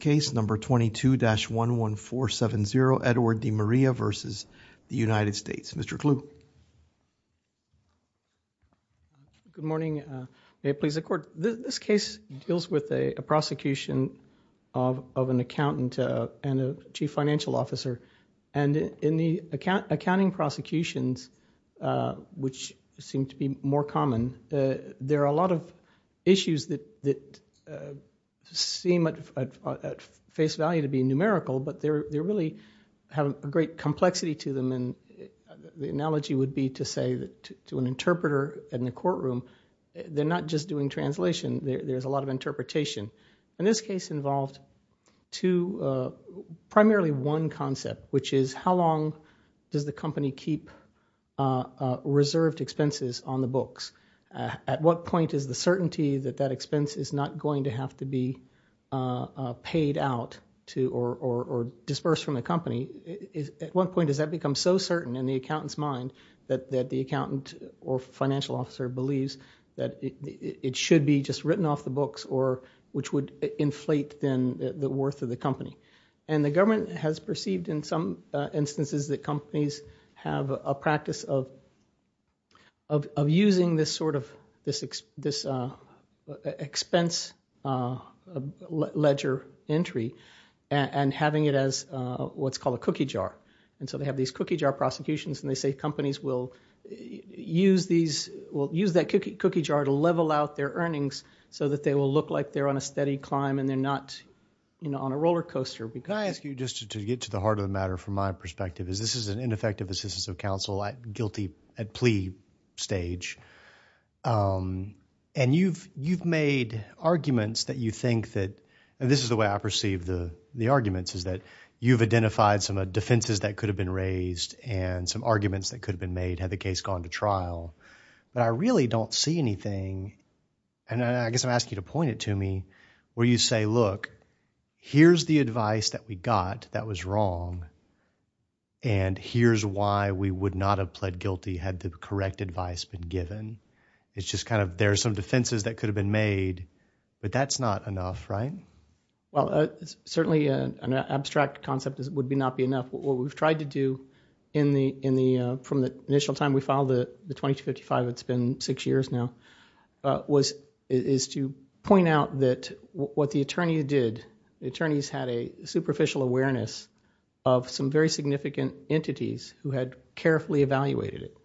case number 22-11470 Edward DiMaria v. United States. Mr. Clu. Good morning. May it please the court. This case deals with a prosecution of an accountant and a chief financial officer and in the accounting prosecutions, which seem to be more common, and there are a lot of issues that seem at face value to be numerical, but they really have a great complexity to them. And the analogy would be to say to an interpreter in the courtroom, they're not just doing translation, there's a lot of interpretation. And this case involved two primarily one concept, which is how long does the company keep reserved expenses on the books? At what point is the certainty that that expense is not going to have to be paid out to or dispersed from the company? At what point does that become so certain in the accountant's mind that the accountant or financial officer believes that it should be just written off the books or which would inflate then the worth of the company? And the government has perceived in some instances that companies have a practice of using this sort of expense ledger entry and having it as what's called a cookie jar. And so they have these cookie jar prosecutions and they say companies will use that cookie jar to level out their earnings so that they will look like they're on a steady climb and they're not on a roller coaster. Can I ask you just to get to the heart of the matter from my perspective is this is an ineffective assistance of counsel at plea stage. And you've made arguments that you think that, and this is the way I perceive the arguments, is that you've identified some defenses that could have been raised and some arguments that could have been made had the case gone to trial. But I really don't see anything, and I guess I'm asking you to point it to me, where you say, look, here's the advice that we got that was wrong and here's why we would not have pled guilty had the correct advice been given. It's just kind of there are some defenses that could have been made, but that's not enough, right? Well, certainly an abstract concept would not be enough. What we've tried to do from the initial time we filed the 2255, it's been six years now, is to point out that what the attorneys did, the attorneys had a superficial awareness of some very significant entities who had carefully evaluated it,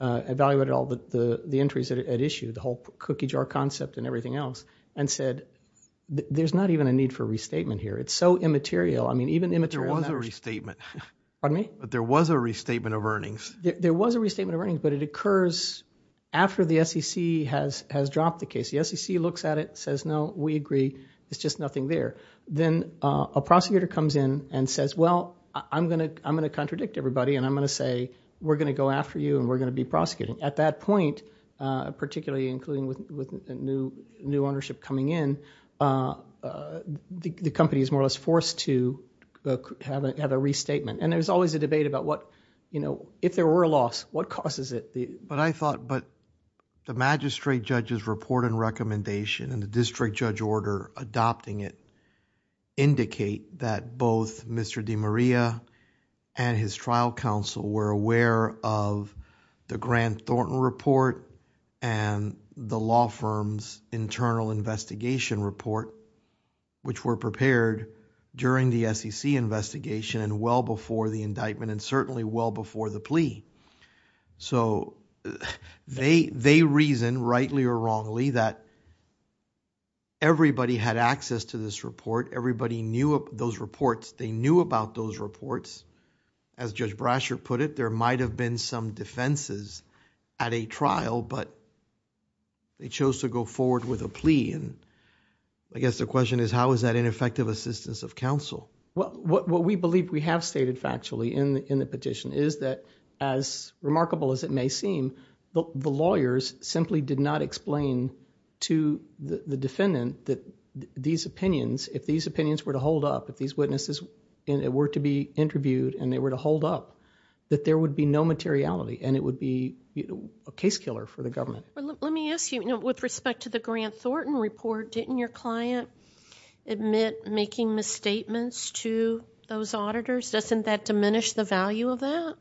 evaluated all the entries at issue, the whole cookie jar concept and everything else, and said, there's not even a need for restatement here. It's so immaterial. I mean, even immaterial matters. There was a restatement. Pardon me? There was a restatement of earnings, but it occurs after the SEC has dropped the case. The SEC looks at it, says, no, we agree. It's just nothing there. Then a prosecutor comes in and says, well, I'm going to contradict everybody, and I'm going to say, we're going to go after you, and we're going to be prosecuting. At that point, particularly including with the new ownership coming in, the company is more or less forced to have a restatement. There's always a debate about what, if there were a loss, what causes it? I thought, but the magistrate judge's report and recommendation and the district judge order adopting it indicate that both Mr. DiMaria and his trial counsel were aware of the Grant Thornton report and the law firm's internal investigation report, which were prepared during the SEC investigation and well before the indictment and certainly well before the plea. They reason, rightly or wrongly, that everybody had access to this report. Everybody knew those reports. They knew about those reports. As Judge Brasher put it, there might have been some defenses at a trial, but they chose to go forward with a plea. I guess the question is, how is that ineffective assistance of counsel? What we believe we have stated factually in the petition is that, as remarkable as it may seem, the lawyers simply did not explain to the defendant that these opinions, if these opinions were to hold up, if these witnesses were to be interviewed and they were to hold up, that there would be no materiality and it would be a case killer for the government. Let me ask you, with respect to the Grant Thornton report, didn't your client admit making misstatements to those auditors? Doesn't that diminish the value of that?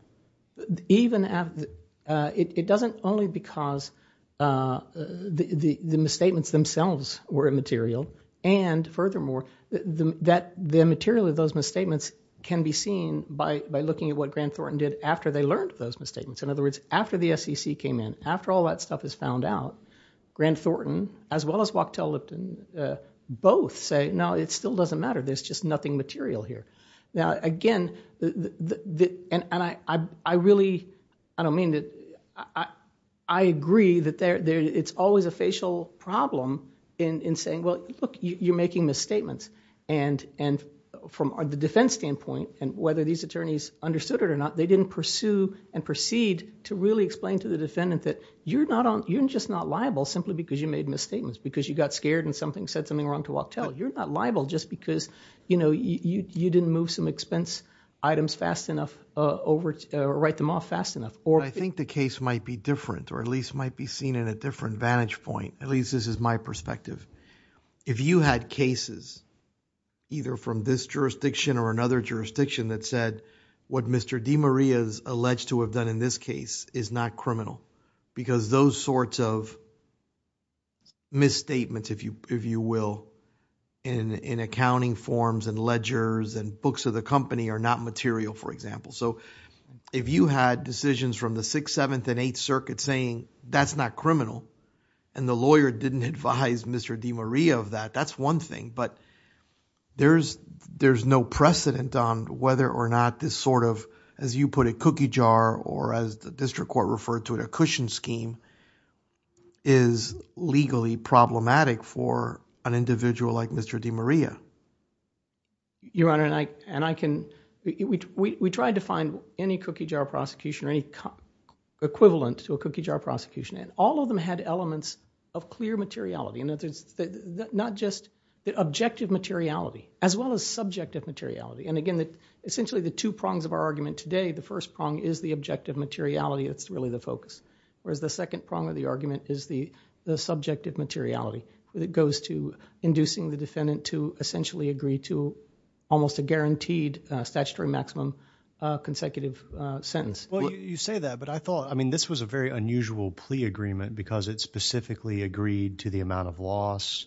It doesn't only because the misstatements themselves were immaterial and furthermore, the material of those misstatements can be seen by looking at what Grant Thornton did after they learned those misstatements. In other words, after the SEC came in, after all that stuff is found out, Grant Thornton, as well as Wachtell Lipton, both say, no, it still doesn't matter. There's just nothing material here. I agree that it's always a facial problem in saying, look, you're making misstatements. From the defense standpoint, whether these attorneys understood it or not, they didn't pursue and proceed to really explain to the defendant that you're just not liable simply because you made misstatements, because you got scared and said something wrong to Wachtell. You're not liable just because you didn't move some expense items fast enough or write them off fast enough. I think the case might be different or at least might be seen in a different vantage point. At least this is my perspective. If you had cases either from this jurisdiction or another jurisdiction that said what Mr. DiMaria is alleged to have done in this case is not criminal, because those sorts of misstatements, if you will, in accounting forms and ledgers and books of the company are not material, for example. If you had decisions from the Sixth, Seventh, and Eighth Circuit saying that's not criminal and the lawyer didn't advise Mr. DiMaria of that, that's one thing, but there's no precedent on whether or not this sort of, as you put it, cookie jar or as the district court referred to it, a cushion scheme is legally problematic for an individual like Mr. DiMaria. Your Honor, we tried to find any cookie jar prosecution or any equivalent to a cookie jar case that had elements of clear materiality, not just objective materiality as well as subjective materiality. Again, essentially the two prongs of our argument today, the first prong is the objective materiality that's really the focus, whereas the second prong of the argument is the subjective materiality that goes to inducing the defendant to essentially agree to almost a guaranteed statutory maximum consecutive sentence. You say that, but I thought this was a very unusual plea agreement because it specifically agreed to the amount of loss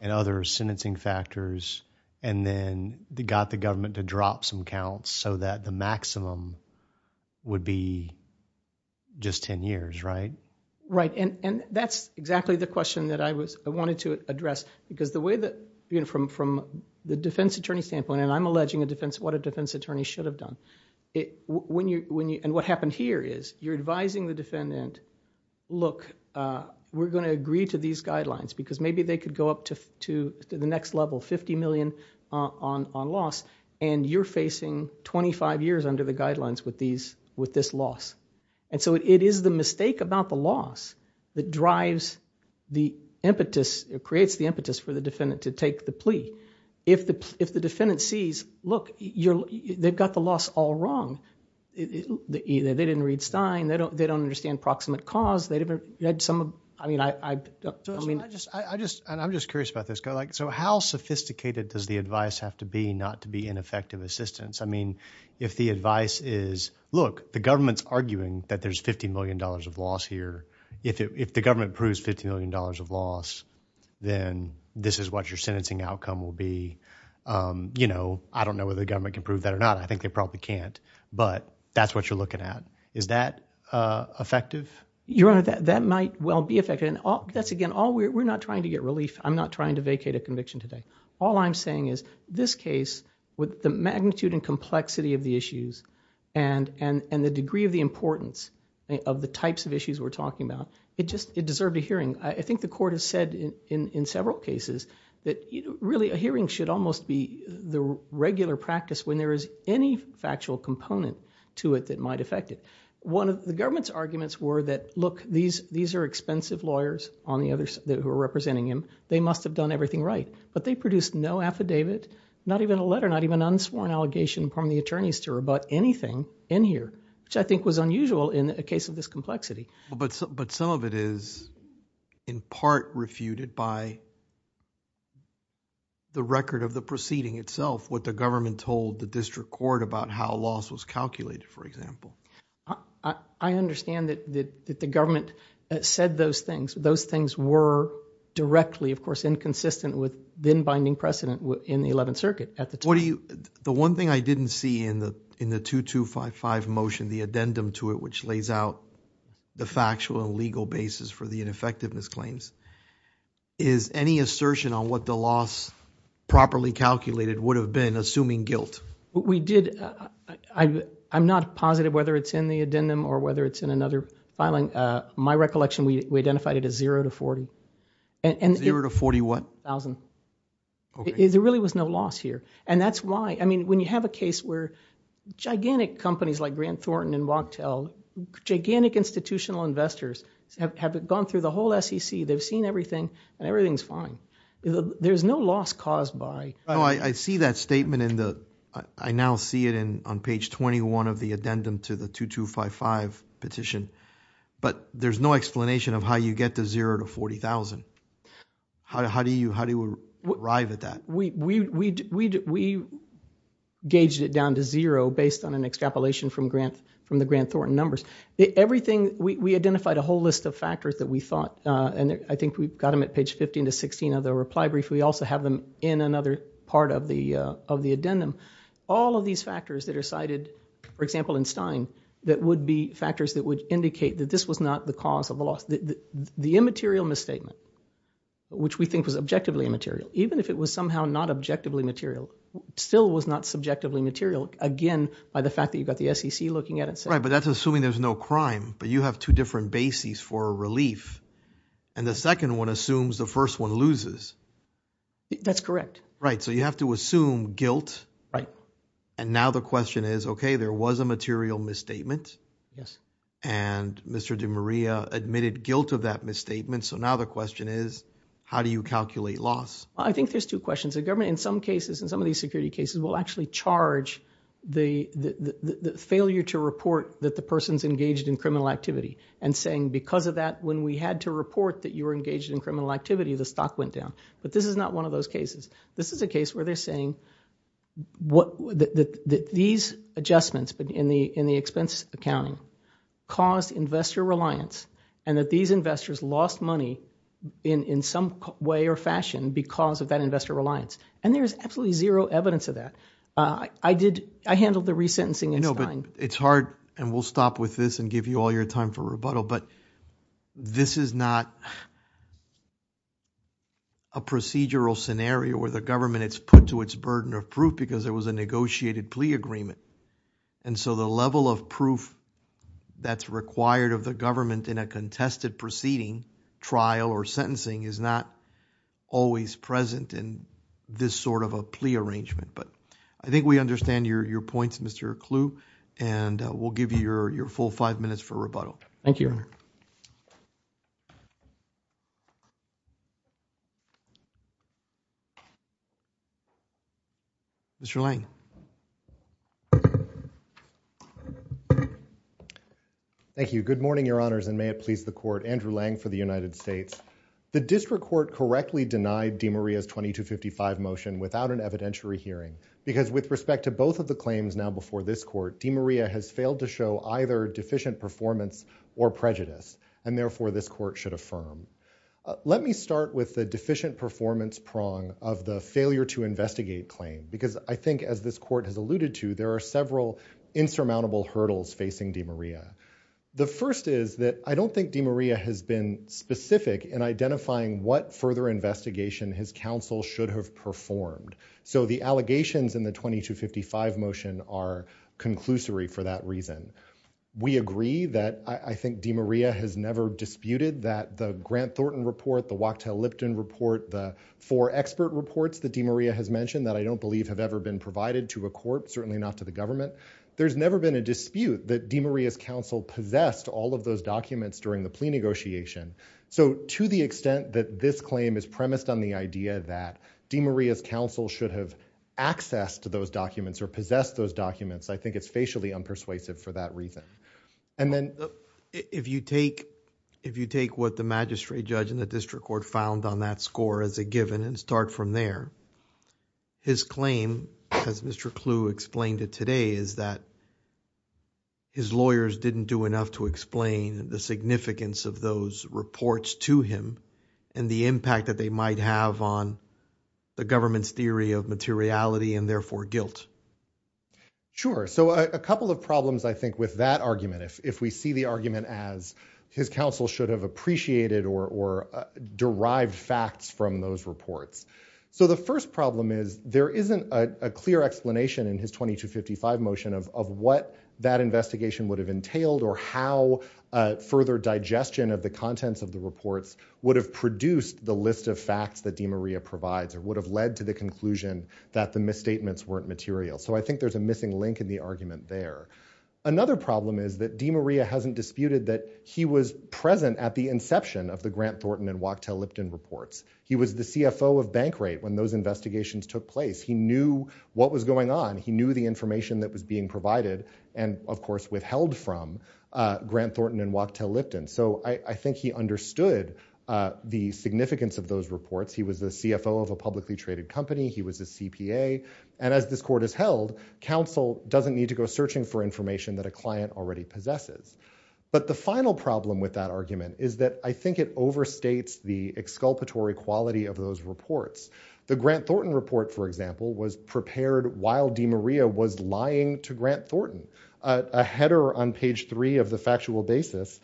and other sentencing factors and then got the government to drop some counts so that the maximum would be just ten years, right? That's exactly the question that I wanted to address because the way that from the defense attorney standpoint, and I'm alleging what a defense attorney should have done, and what happened here is you're advising the defendant, look, we're going to agree to these guidelines because maybe they could go up to the next level, 50 million on loss, and you're facing 25 years under the guidelines with this loss. It is the mistake about the loss that drives the impetus, creates the impetus for the defendant to take the plea. If the defendant sees, look, they've got the loss all wrong, they didn't read Stein, they don't understand proximate cause, they didn't read some of, I mean, I don't know. I'm just curious about this. How sophisticated does the advice have to be not to be ineffective assistance? I mean, if the advice is, look, the government's arguing that there's $50 million of loss here. If the government proves $50 million of loss, then this is what your sentencing outcome will be. I don't know whether the government can prove that or not. I think they probably can't, but that's what you're looking at. Is that effective? Your Honor, that might well be effective. That's again, we're not trying to get relief. I'm not trying to vacate a conviction today. All I'm saying is this case, with the magnitude and complexity of the issues and the degree of the importance of the types of issues we're talking about, it deserved a hearing. I think the court has said in several cases that really a hearing should almost be the regular practice when there is any factual component to it that might affect it. One of the government's arguments were that, look, these are expensive lawyers who are representing him. They must have done everything right. But they produced no affidavit, not even a letter, not even an unsworn allegation from the attorneys to rebut anything in here, which I think was unusual in a case of this complexity. But some of it is, in part, refuted by the record of the proceeding itself, what the government told the district court about how loss was calculated, for example. I understand that the government said those things. Those things were directly, of course, inconsistent with then binding precedent in the Eleventh Circuit at the time. The one thing I didn't see in the 2255 motion, the addendum to it, which lays out the factual and legal basis for the ineffectiveness claims, is any assertion on what the loss properly calculated would have been, assuming guilt. We did. I'm not positive whether it's in the addendum or whether it's in another filing. My recollection, we identified it as zero to 40. Zero to 40 what? 40,000. Okay. There really was no loss here. And that's why, I mean, when you have a case where gigantic companies like Grant Thornton and Wachtell, gigantic institutional investors have gone through the whole SEC, they've seen everything, and everything's fine. There's no loss caused by... I see that statement in the, I now see it on page 21 of the addendum to the 2255 petition. But there's no explanation of how you get to zero to 40,000. How do you arrive at that? We gauged it down to zero based on an extrapolation from the Grant Thornton numbers. Everything, we identified a whole list of factors that we thought, and I think we've got them at page 15 to 16 of the reply brief. We also have them in another part of the addendum. All of these factors that are cited, for example, in Stein, that would be factors that would indicate that this was not the cause of the loss. The immaterial misstatement, which we think was objectively immaterial, even if it was somehow not objectively material, still was not subjectively material, again, by the fact that you've got the SEC looking at it. Right. But that's assuming there's no crime, but you have two different bases for relief. And the second one assumes the first one loses. That's correct. Right. So you have to assume guilt. Right. And now the question is, okay, there was a material misstatement. And Mr. DiMaria admitted guilt of that misstatement. So now the question is, how do you calculate loss? I think there's two questions. The government, in some cases, in some of these security cases, will actually charge the failure to report that the person's engaged in criminal activity and saying, because of that, when we had to report that you were engaged in criminal activity, the stock went down. But this is not one of those cases. This is a case where they're saying that these adjustments in the expense accounting caused investor reliance and that these investors lost money in some way or fashion because of that investor reliance. And there is absolutely zero evidence of that. I handled the resentencing in Stein. No, but it's hard, and we'll stop with this and give you all your time for rebuttal, but this is not a procedural scenario where the government is put to its burden of proof because there was a negotiated plea agreement. And so the level of proof that's required of the government in a contested proceeding, trial, or sentencing is not always present in this sort of a plea arrangement. But I think we understand your points, Mr. Kluh, and we'll give you your full five minutes for rebuttal. Thank you, Your Honor. Mr. Lange. Thank you. Good morning, Your Honors, and may it please the Court. Andrew Lange for the United States. The District Court correctly denied DeMaria's 2255 motion without an evidentiary hearing because with respect to both of the claims now before this Court, DeMaria has failed to show either deficient performance or prejudice, and therefore this Court should affirm. Let me start with the deficient performance prong of the failure to investigate claim, because I think, as this Court has alluded to, there are several insurmountable hurdles facing DeMaria. The first is that I don't think DeMaria has been specific in identifying what further investigation his counsel should have performed. So the allegations in the 2255 motion are conclusory for that reason. We agree that I think DeMaria has never disputed that the Grant Thornton report, the Wachtell-Lipton report, the four expert reports that DeMaria has mentioned that I don't believe have ever been provided to a court, certainly not to the government. There's never been a dispute that DeMaria's counsel possessed all of those documents during the plea negotiation. So to the extent that this claim is premised on the idea that DeMaria's counsel should have accessed those documents or possessed those documents, I think it's facially unpersuasive for that reason. And then... If you take what the magistrate judge in the district court found on that score as a given and start from there, his claim, as Mr. Clue explained it today, is that his lawyers didn't do enough to explain the significance of those reports to him and the impact that they might have on the government's theory of materiality and therefore guilt. Sure. So a couple of problems, I think, with that argument, if we see the argument as his counsel should have appreciated or derived facts from those reports. So the first problem is there isn't a clear explanation in his 2255 motion of what that investigation would have entailed or how further digestion of the contents of the reports would have produced the list of facts that DeMaria provides or would have led to the conclusion that the misstatements weren't material. So I think there's a missing link in the argument there. Another problem is that DeMaria hasn't disputed that he was present at the inception of the Grant Thornton and Wachtell Lipton reports. He was the CFO of Bankrate when those investigations took place. He knew what was going on. He knew the information that was being provided and, of course, withheld from Grant Thornton and Wachtell Lipton. So I think he understood the significance of those reports. He was the CFO of a publicly traded company. He was a CPA. And as this court has held, counsel doesn't need to go searching for information that a client already possesses. But the final problem with that argument is that I think it overstates the exculpatory quality of those reports. The Grant Thornton report, for example, was prepared while DeMaria was lying to Grant Thornton. A header on page three of the factual basis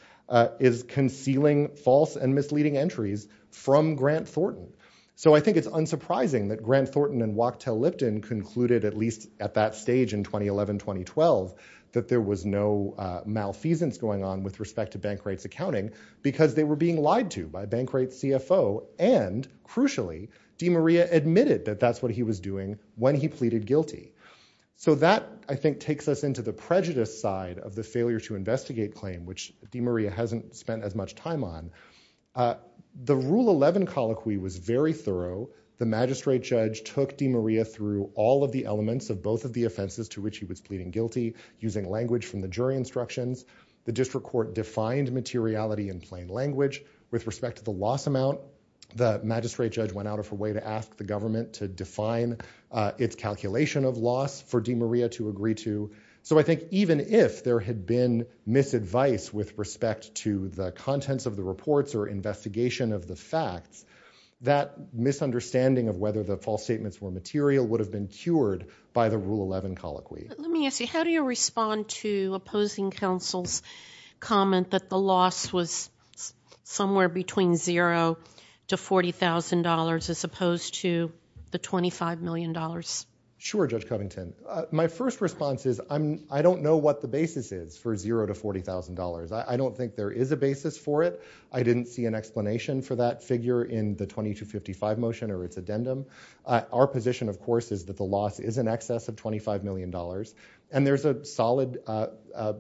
is concealing false and misleading entries from Grant Thornton. So I think it's unsurprising that Grant Thornton and Wachtell Lipton concluded, at least at that stage in 2011-2012, that there was no malfeasance going on with respect to Bankrate's accounting because they were being lied to by Bankrate's CFO and, crucially, DeMaria admitted that that's what he was doing when he pleaded guilty. So that, I think, takes us into the prejudice side of the failure to investigate claim, which DeMaria hasn't spent as much time on. The Rule 11 colloquy was very thorough. The magistrate judge took DeMaria through all of the elements of both of the offenses to which he was pleading guilty using language from the jury instructions. The district court defined materiality in plain language. With respect to the loss amount, the magistrate judge went out of her way to ask the government to define its calculation of loss for DeMaria to agree to. So I think even if there had been misadvice with respect to the contents of the reports or investigation of the facts, that misunderstanding of whether the false statements were material would have been cured by the Rule 11 colloquy. Let me ask you, how do you respond to opposing counsel's comment that the loss was somewhere between zero to forty thousand dollars as opposed to the twenty five million dollars? Sure, Judge Covington. My first response is I don't know what the basis is for zero to forty thousand dollars. I don't think there is a basis for it. I didn't see an explanation for that figure in the 2255 motion or its addendum. Our position, of course, is that the loss is in excess of twenty five million dollars and there's a solid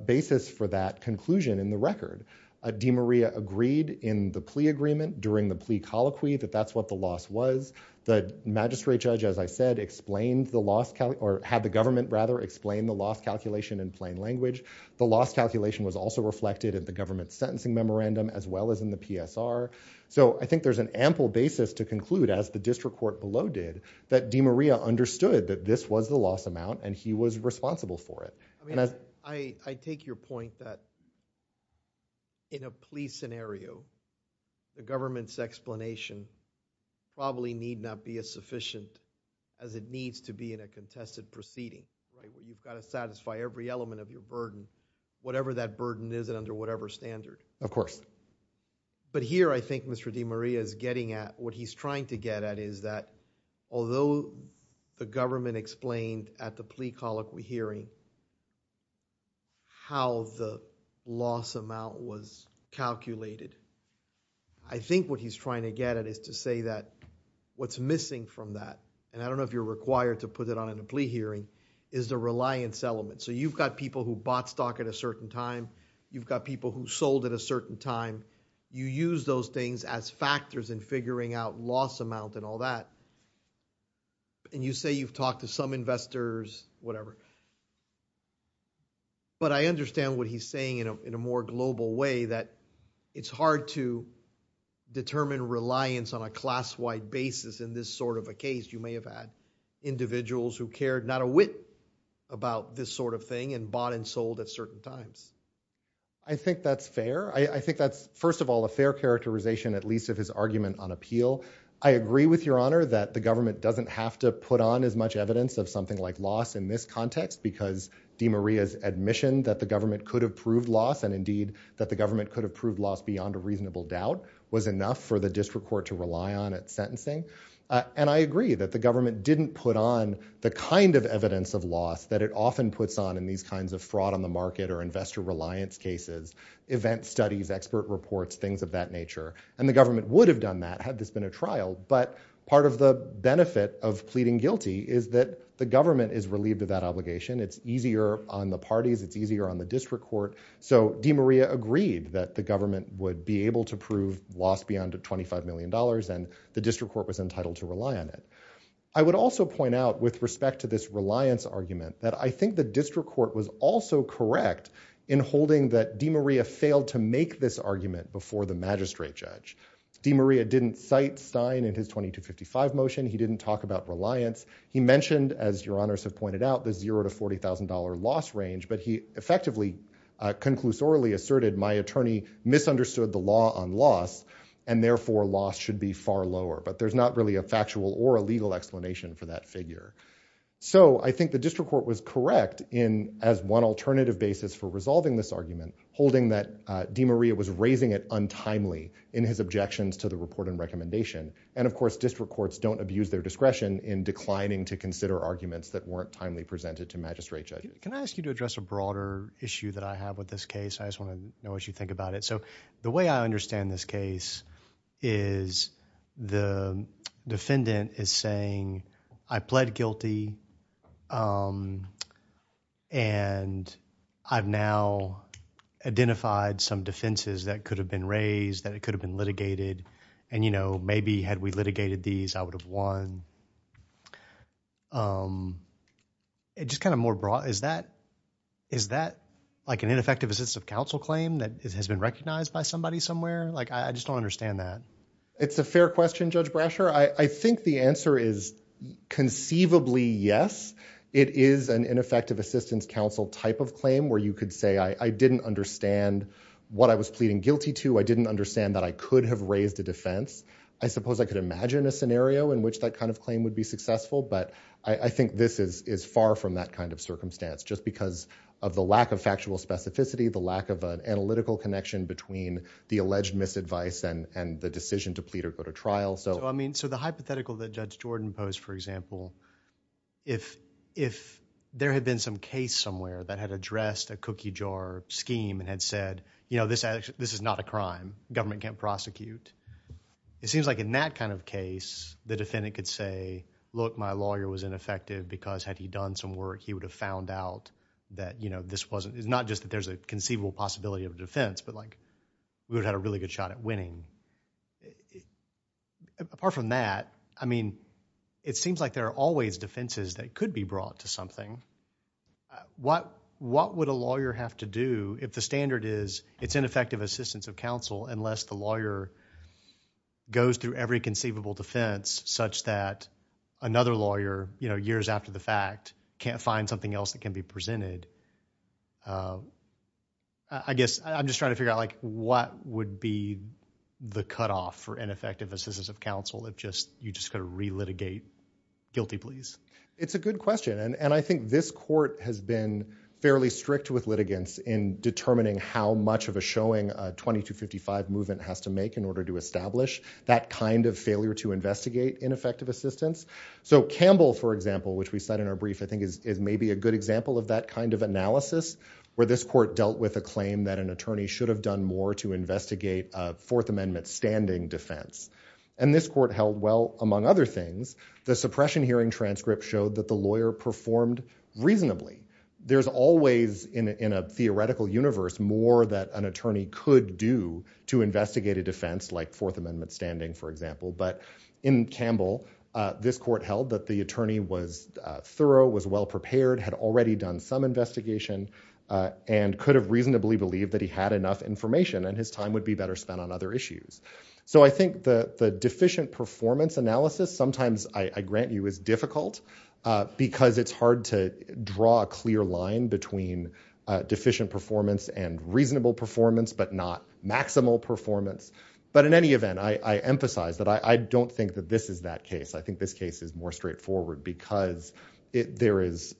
basis for that conclusion in the record. DeMaria agreed in the plea agreement during the plea colloquy that that's what the loss was. The magistrate judge, as I said, explained the loss or had the government rather explain the loss calculation in plain language. The loss calculation was also reflected at the government sentencing memorandum as well as in the PSR. So I think there's an ample basis to conclude, as the district court below did, that DeMaria understood that this was the loss amount and he was responsible for it. I take your point that in a plea scenario, the government's explanation probably need not be as sufficient as it needs to be in a contested proceeding. You've got to satisfy every element of your burden, whatever that burden is and under whatever standard. Of course. But here I think Mr. DeMaria is getting at what he's trying to get at is that although the government explained at the plea colloquy hearing how the loss amount was calculated, I think what he's trying to get at is to say that what's missing from that, and I don't know if you're required to put it on in a plea hearing, is the reliance element. So you've got people who bought stock at a certain time, you've got people who sold at a certain time, you use those things as factors in figuring out loss amount and all that. And you say you've talked to some whatever. But I understand what he's saying in a more global way that it's hard to determine reliance on a class-wide basis in this sort of a case. You may have had individuals who cared not a whit about this sort of thing and bought and sold at certain times. I think that's fair. I think that's first of all a fair characterization at least of his argument on appeal. I agree with that the government doesn't have to put on as much evidence of something like loss in this context because DeMaria's admission that the government could have proved loss and indeed that the government could have proved loss beyond a reasonable doubt was enough for the district court to rely on at sentencing. And I agree that the government didn't put on the kind of evidence of loss that it often puts on in these kinds of fraud on the market or investor reliance cases, event studies, expert reports, things of that nature. And the government would have done that had this been a trial. But part of the benefit of pleading guilty is that the government is relieved of that obligation. It's easier on the parties. It's easier on the district court. So DeMaria agreed that the government would be able to prove loss beyond 25 million dollars and the district court was entitled to rely on it. I would also point out with respect to this reliance argument that I think the district court was also correct in holding that DeMaria failed to make this argument before the magistrate judge. DeMaria didn't cite Stein in his 2255 motion. He didn't talk about reliance. He mentioned, as your honors have pointed out, the zero to forty thousand dollar loss range but he effectively conclusorially asserted my attorney misunderstood the law on loss and therefore loss should be far lower. But there's not really a factual or a legal explanation for that figure. So I think the district court was correct in as one alternative basis for resolving this argument holding that DeMaria was raising it untimely in his objections to the report and recommendation and of course district courts don't abuse their discretion in declining to consider arguments that weren't timely presented to magistrate judge. Can I ask you to address a broader issue that I have with this case? I just want to know what you think about it. So the way I case is the defendant is saying I pled guilty and I've now identified some defenses that could have been raised that it could have been litigated and you know maybe had we litigated these I would have won. It's just kind of more broad. Is that like an ineffective assistive counsel claim that has been recognized by somebody somewhere? Like I just don't understand that. It's a fair question Judge Brasher. I think the answer is conceivably yes. It is an ineffective assistance counsel type of claim where you could say I didn't understand what I was pleading guilty to. I didn't understand that I could have raised a defense. I suppose I could imagine a scenario in which that kind of claim would be successful but I think this is far from that kind of circumstance just because of the lack of factual specificity, the lack of an analytical connection between the alleged misadvice and the decision to plead or go to trial. So I mean so the hypothetical that Judge Jordan posed for example if there had been some case somewhere that had addressed a cookie jar scheme and had said you know this is not a crime. Government can't prosecute. It seems like in that kind of case the defendant could say look my lawyer was ineffective because had he done some work he would have found out that you know this wasn't it's not just that there's a conceivable possibility of a defense but like we would have had a really good shot at winning. Apart from that I mean it seems like there are always defenses that could be brought to something. What would a lawyer have to do if the standard is it's ineffective assistance of counsel unless the lawyer goes through every conceivable defense such that another lawyer you know years after the fact can't find something else that can be presented? I guess I'm just trying to figure out like what would be the cutoff for ineffective assistance of counsel if just you just kind of re-litigate guilty pleas? It's a good question and I think this court has been fairly strict with litigants in determining how much of a showing a 2255 movement has to make in order to establish that kind of failure to investigate ineffective assistance. So Campbell for example which we said in our brief I think is maybe a good example of that kind of analysis where this court dealt with a claim that an attorney should have done more to investigate a fourth amendment standing defense and this court held well among other things the suppression hearing transcript showed that the lawyer performed reasonably. There's always in a theoretical universe more that an attorney could do to investigate a defense like a fourth amendment standing for example but in Campbell this court held that the attorney was thorough was well prepared had already done some investigation and could have reasonably believed that he had enough information and his time would be better spent on other issues. So I think that the deficient performance analysis sometimes I grant you is difficult because it's hard to draw a clear line between deficient performance and reasonable performance but not maximal performance but in any event I emphasize that I don't think that this is that case I think this case is more straightforward because there is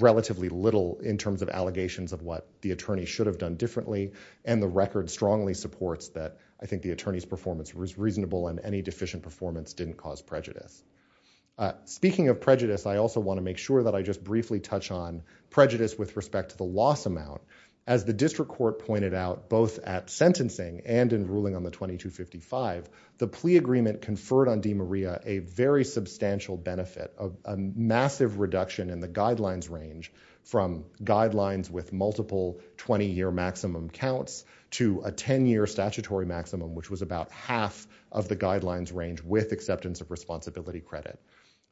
relatively little in terms of allegations of what the attorney should have done differently and the record strongly supports that I think the attorney's performance was reasonable and any deficient performance didn't cause prejudice. Speaking of prejudice I also want to make sure that I just briefly touch on prejudice with respect to the loss amount as the district court pointed out both at sentencing and in ruling on the 2255 the plea agreement conferred on DeMaria a very substantial benefit of a massive reduction in the guidelines range from guidelines with multiple 20-year maximum counts to a 10-year statutory maximum which was about half of the guidelines range with acceptance of responsibility credit.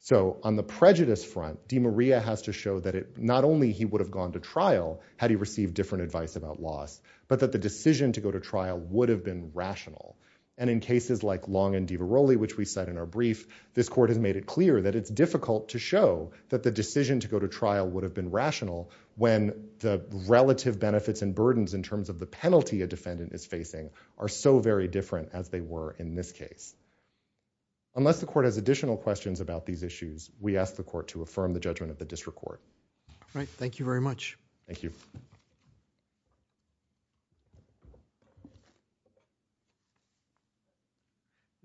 So on the prejudice front DeMaria has to show that it not only he would have gone to trial had he received different advice about loss but that the decision to go to trial would have been rational and in cases like Long and DiVaroli which we cite in our brief this court has made it clear that it's difficult to show that the decision to go to trial would have been rational when the relative benefits and burdens in terms of the penalty a defendant is facing are so very different as they were in this case. Unless the court has additional questions about these issues we ask the court to affirm the judgment of the district court. All right thank you very much. Thank you.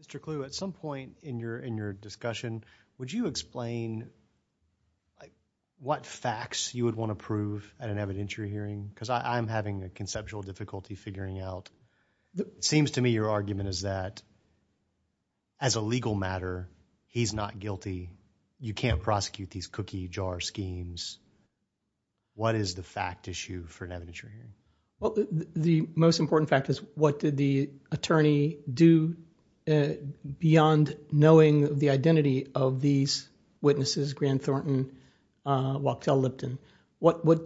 Mr. Clue at some point in your in your discussion would you explain what facts you would want to prove at an evidentiary hearing because I'm having a conceptual difficulty figuring out. It seems to me your argument is that as a legal matter he's not guilty you can't prosecute these cookie jar schemes. What is the fact issue for an evidentiary hearing? Well the most important fact is what did the attorney do beyond knowing the identity of these witnesses Grant Thornton, Wachtell Lipton?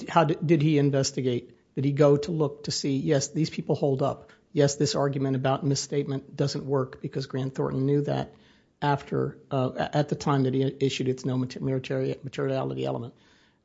How did he investigate? Did he go to look to see yes these people hold up, yes this argument about misstatement doesn't work because Grant Thornton knew that after at the time that he issued its military materiality element.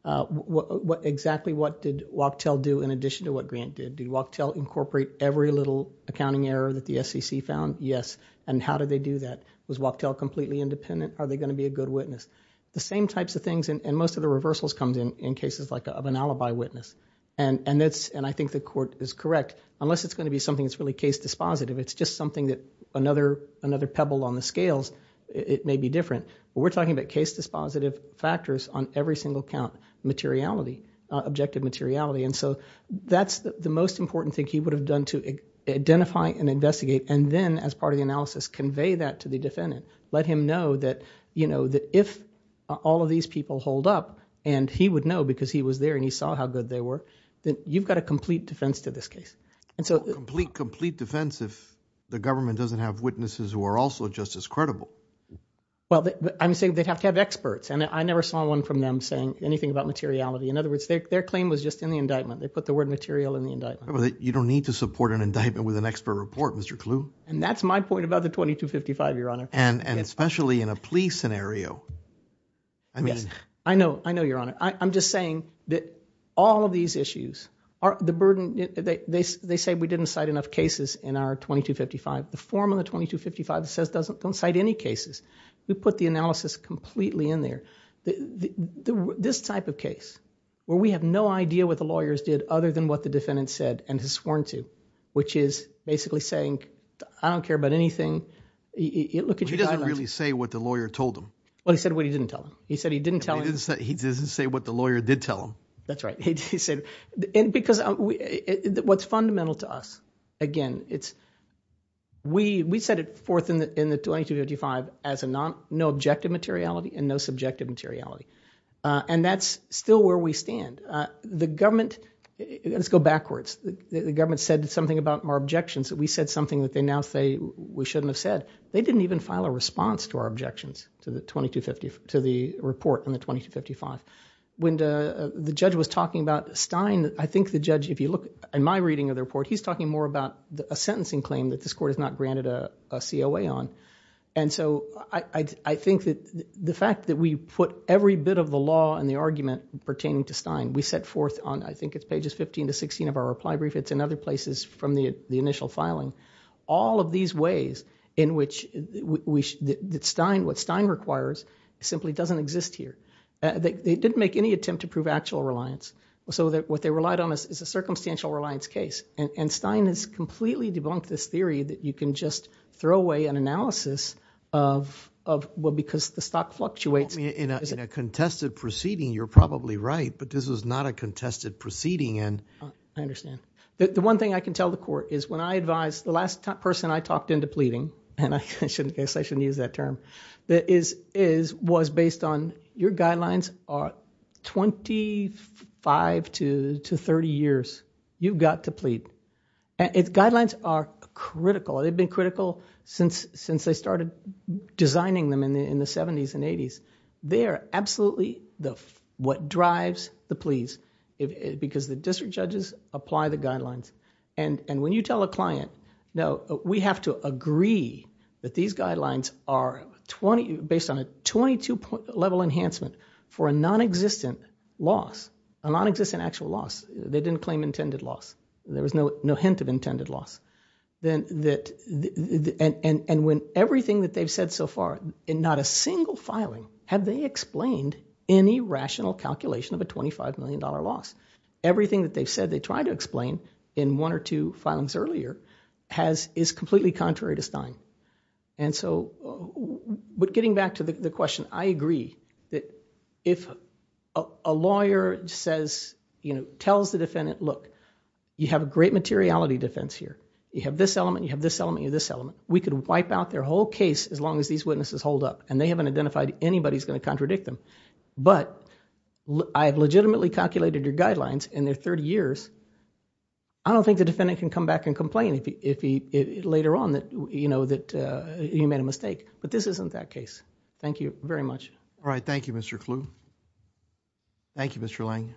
What exactly what did Wachtell do in addition to what Grant did? Did Wachtell incorporate every little accounting error that the SEC found? Yes. And how did they do that? Was Wachtell completely independent? Are they going to be a good witness? The same types of things and most of the reversals comes in in cases like of an alibi witness and and that's and I think the court is correct unless it's going to be something that's really case dispositive it's just something that another another pebble on the scales it may be different. We're talking about case dispositive factors on every single count materiality objective materiality and so that's the most important thing he would have done to identify and investigate and then as part of the analysis convey that to the defendant let him know that you know that if all of these people hold up and he would know because he was there and he saw how good they were then you've got a complete defense to this case and so complete complete defense if the government doesn't have witnesses who are also just as credible. Well I'm saying they'd have to have experts and I never saw one from them saying anything about materiality in other words their claim was just in the indictment they put the word material in you don't need to support an indictment with an expert report Mr. Clue and that's my point about the 2255 your honor and and especially in a police scenario I mean yes I know I know your honor I'm just saying that all of these issues are the burden they they say we didn't cite enough cases in our 2255 the form of the 2255 that says doesn't don't cite any cases we put the analysis completely in there the the this type of case where we have no idea what the defendant said and has sworn to which is basically saying I don't care about anything it look at you doesn't really say what the lawyer told him well he said what he didn't tell him he said he didn't tell him he didn't say what the lawyer did tell him that's right he said and because we what's fundamental to us again it's we we set it forth in the in the 2255 as a non no objective materiality and no subjective materiality and that's still where we stand the government let's go backwards the government said something about our objections that we said something that they now say we shouldn't have said they didn't even file a response to our objections to the 2250 to the report on the 2255 when the the judge was talking about Stein I think the judge if you look in my reading of the report he's talking more about a sentencing claim that this court has not granted a COA on and so I I think that the fact that we put every bit of the argument pertaining to Stein we set forth on I think it's pages 15 to 16 of our reply brief it's in other places from the the initial filing all of these ways in which we that Stein what Stein requires simply doesn't exist here they didn't make any attempt to prove actual reliance so that what they relied on is a circumstantial reliance case and and Stein has completely debunked this theory that you can just throw away an analysis of of well because the stock fluctuates in a contested proceeding you're probably right but this is not a contested proceeding and I understand the one thing I can tell the court is when I advise the last person I talked into pleading and I shouldn't guess I shouldn't use that term that is is was based on your guidelines are 25 to 30 years you've got to plead and its guidelines are critical they've been critical since since they started designing them in the in the 70s and 80s they are absolutely the what drives the pleas because the district judges apply the guidelines and and when you tell a client no we have to agree that these guidelines are 20 based on a 22 point level enhancement for a non-existent loss a non-existent actual loss they didn't claim intended loss there was no no hint of intended loss then that and and when everything that they've said so far in not a single filing have they explained any rational calculation of a 25 million dollar loss everything that they've said they try to explain in one or two filings earlier has is completely contrary to Stein and so but getting back to the question I agree that if a lawyer says you know tells the defendant look you have a great materiality defense here you have this element you have this element of this element we could wipe out their whole case as long as these witnesses hold up and they haven't identified anybody's going to contradict them but I have legitimately calculated your guidelines in their 30 years I don't think the defendant can come back and complain if he if he later on that you know that he made a mistake but this isn't that case thank you very much all right thank you Mr. Clue thank you Mr. Lange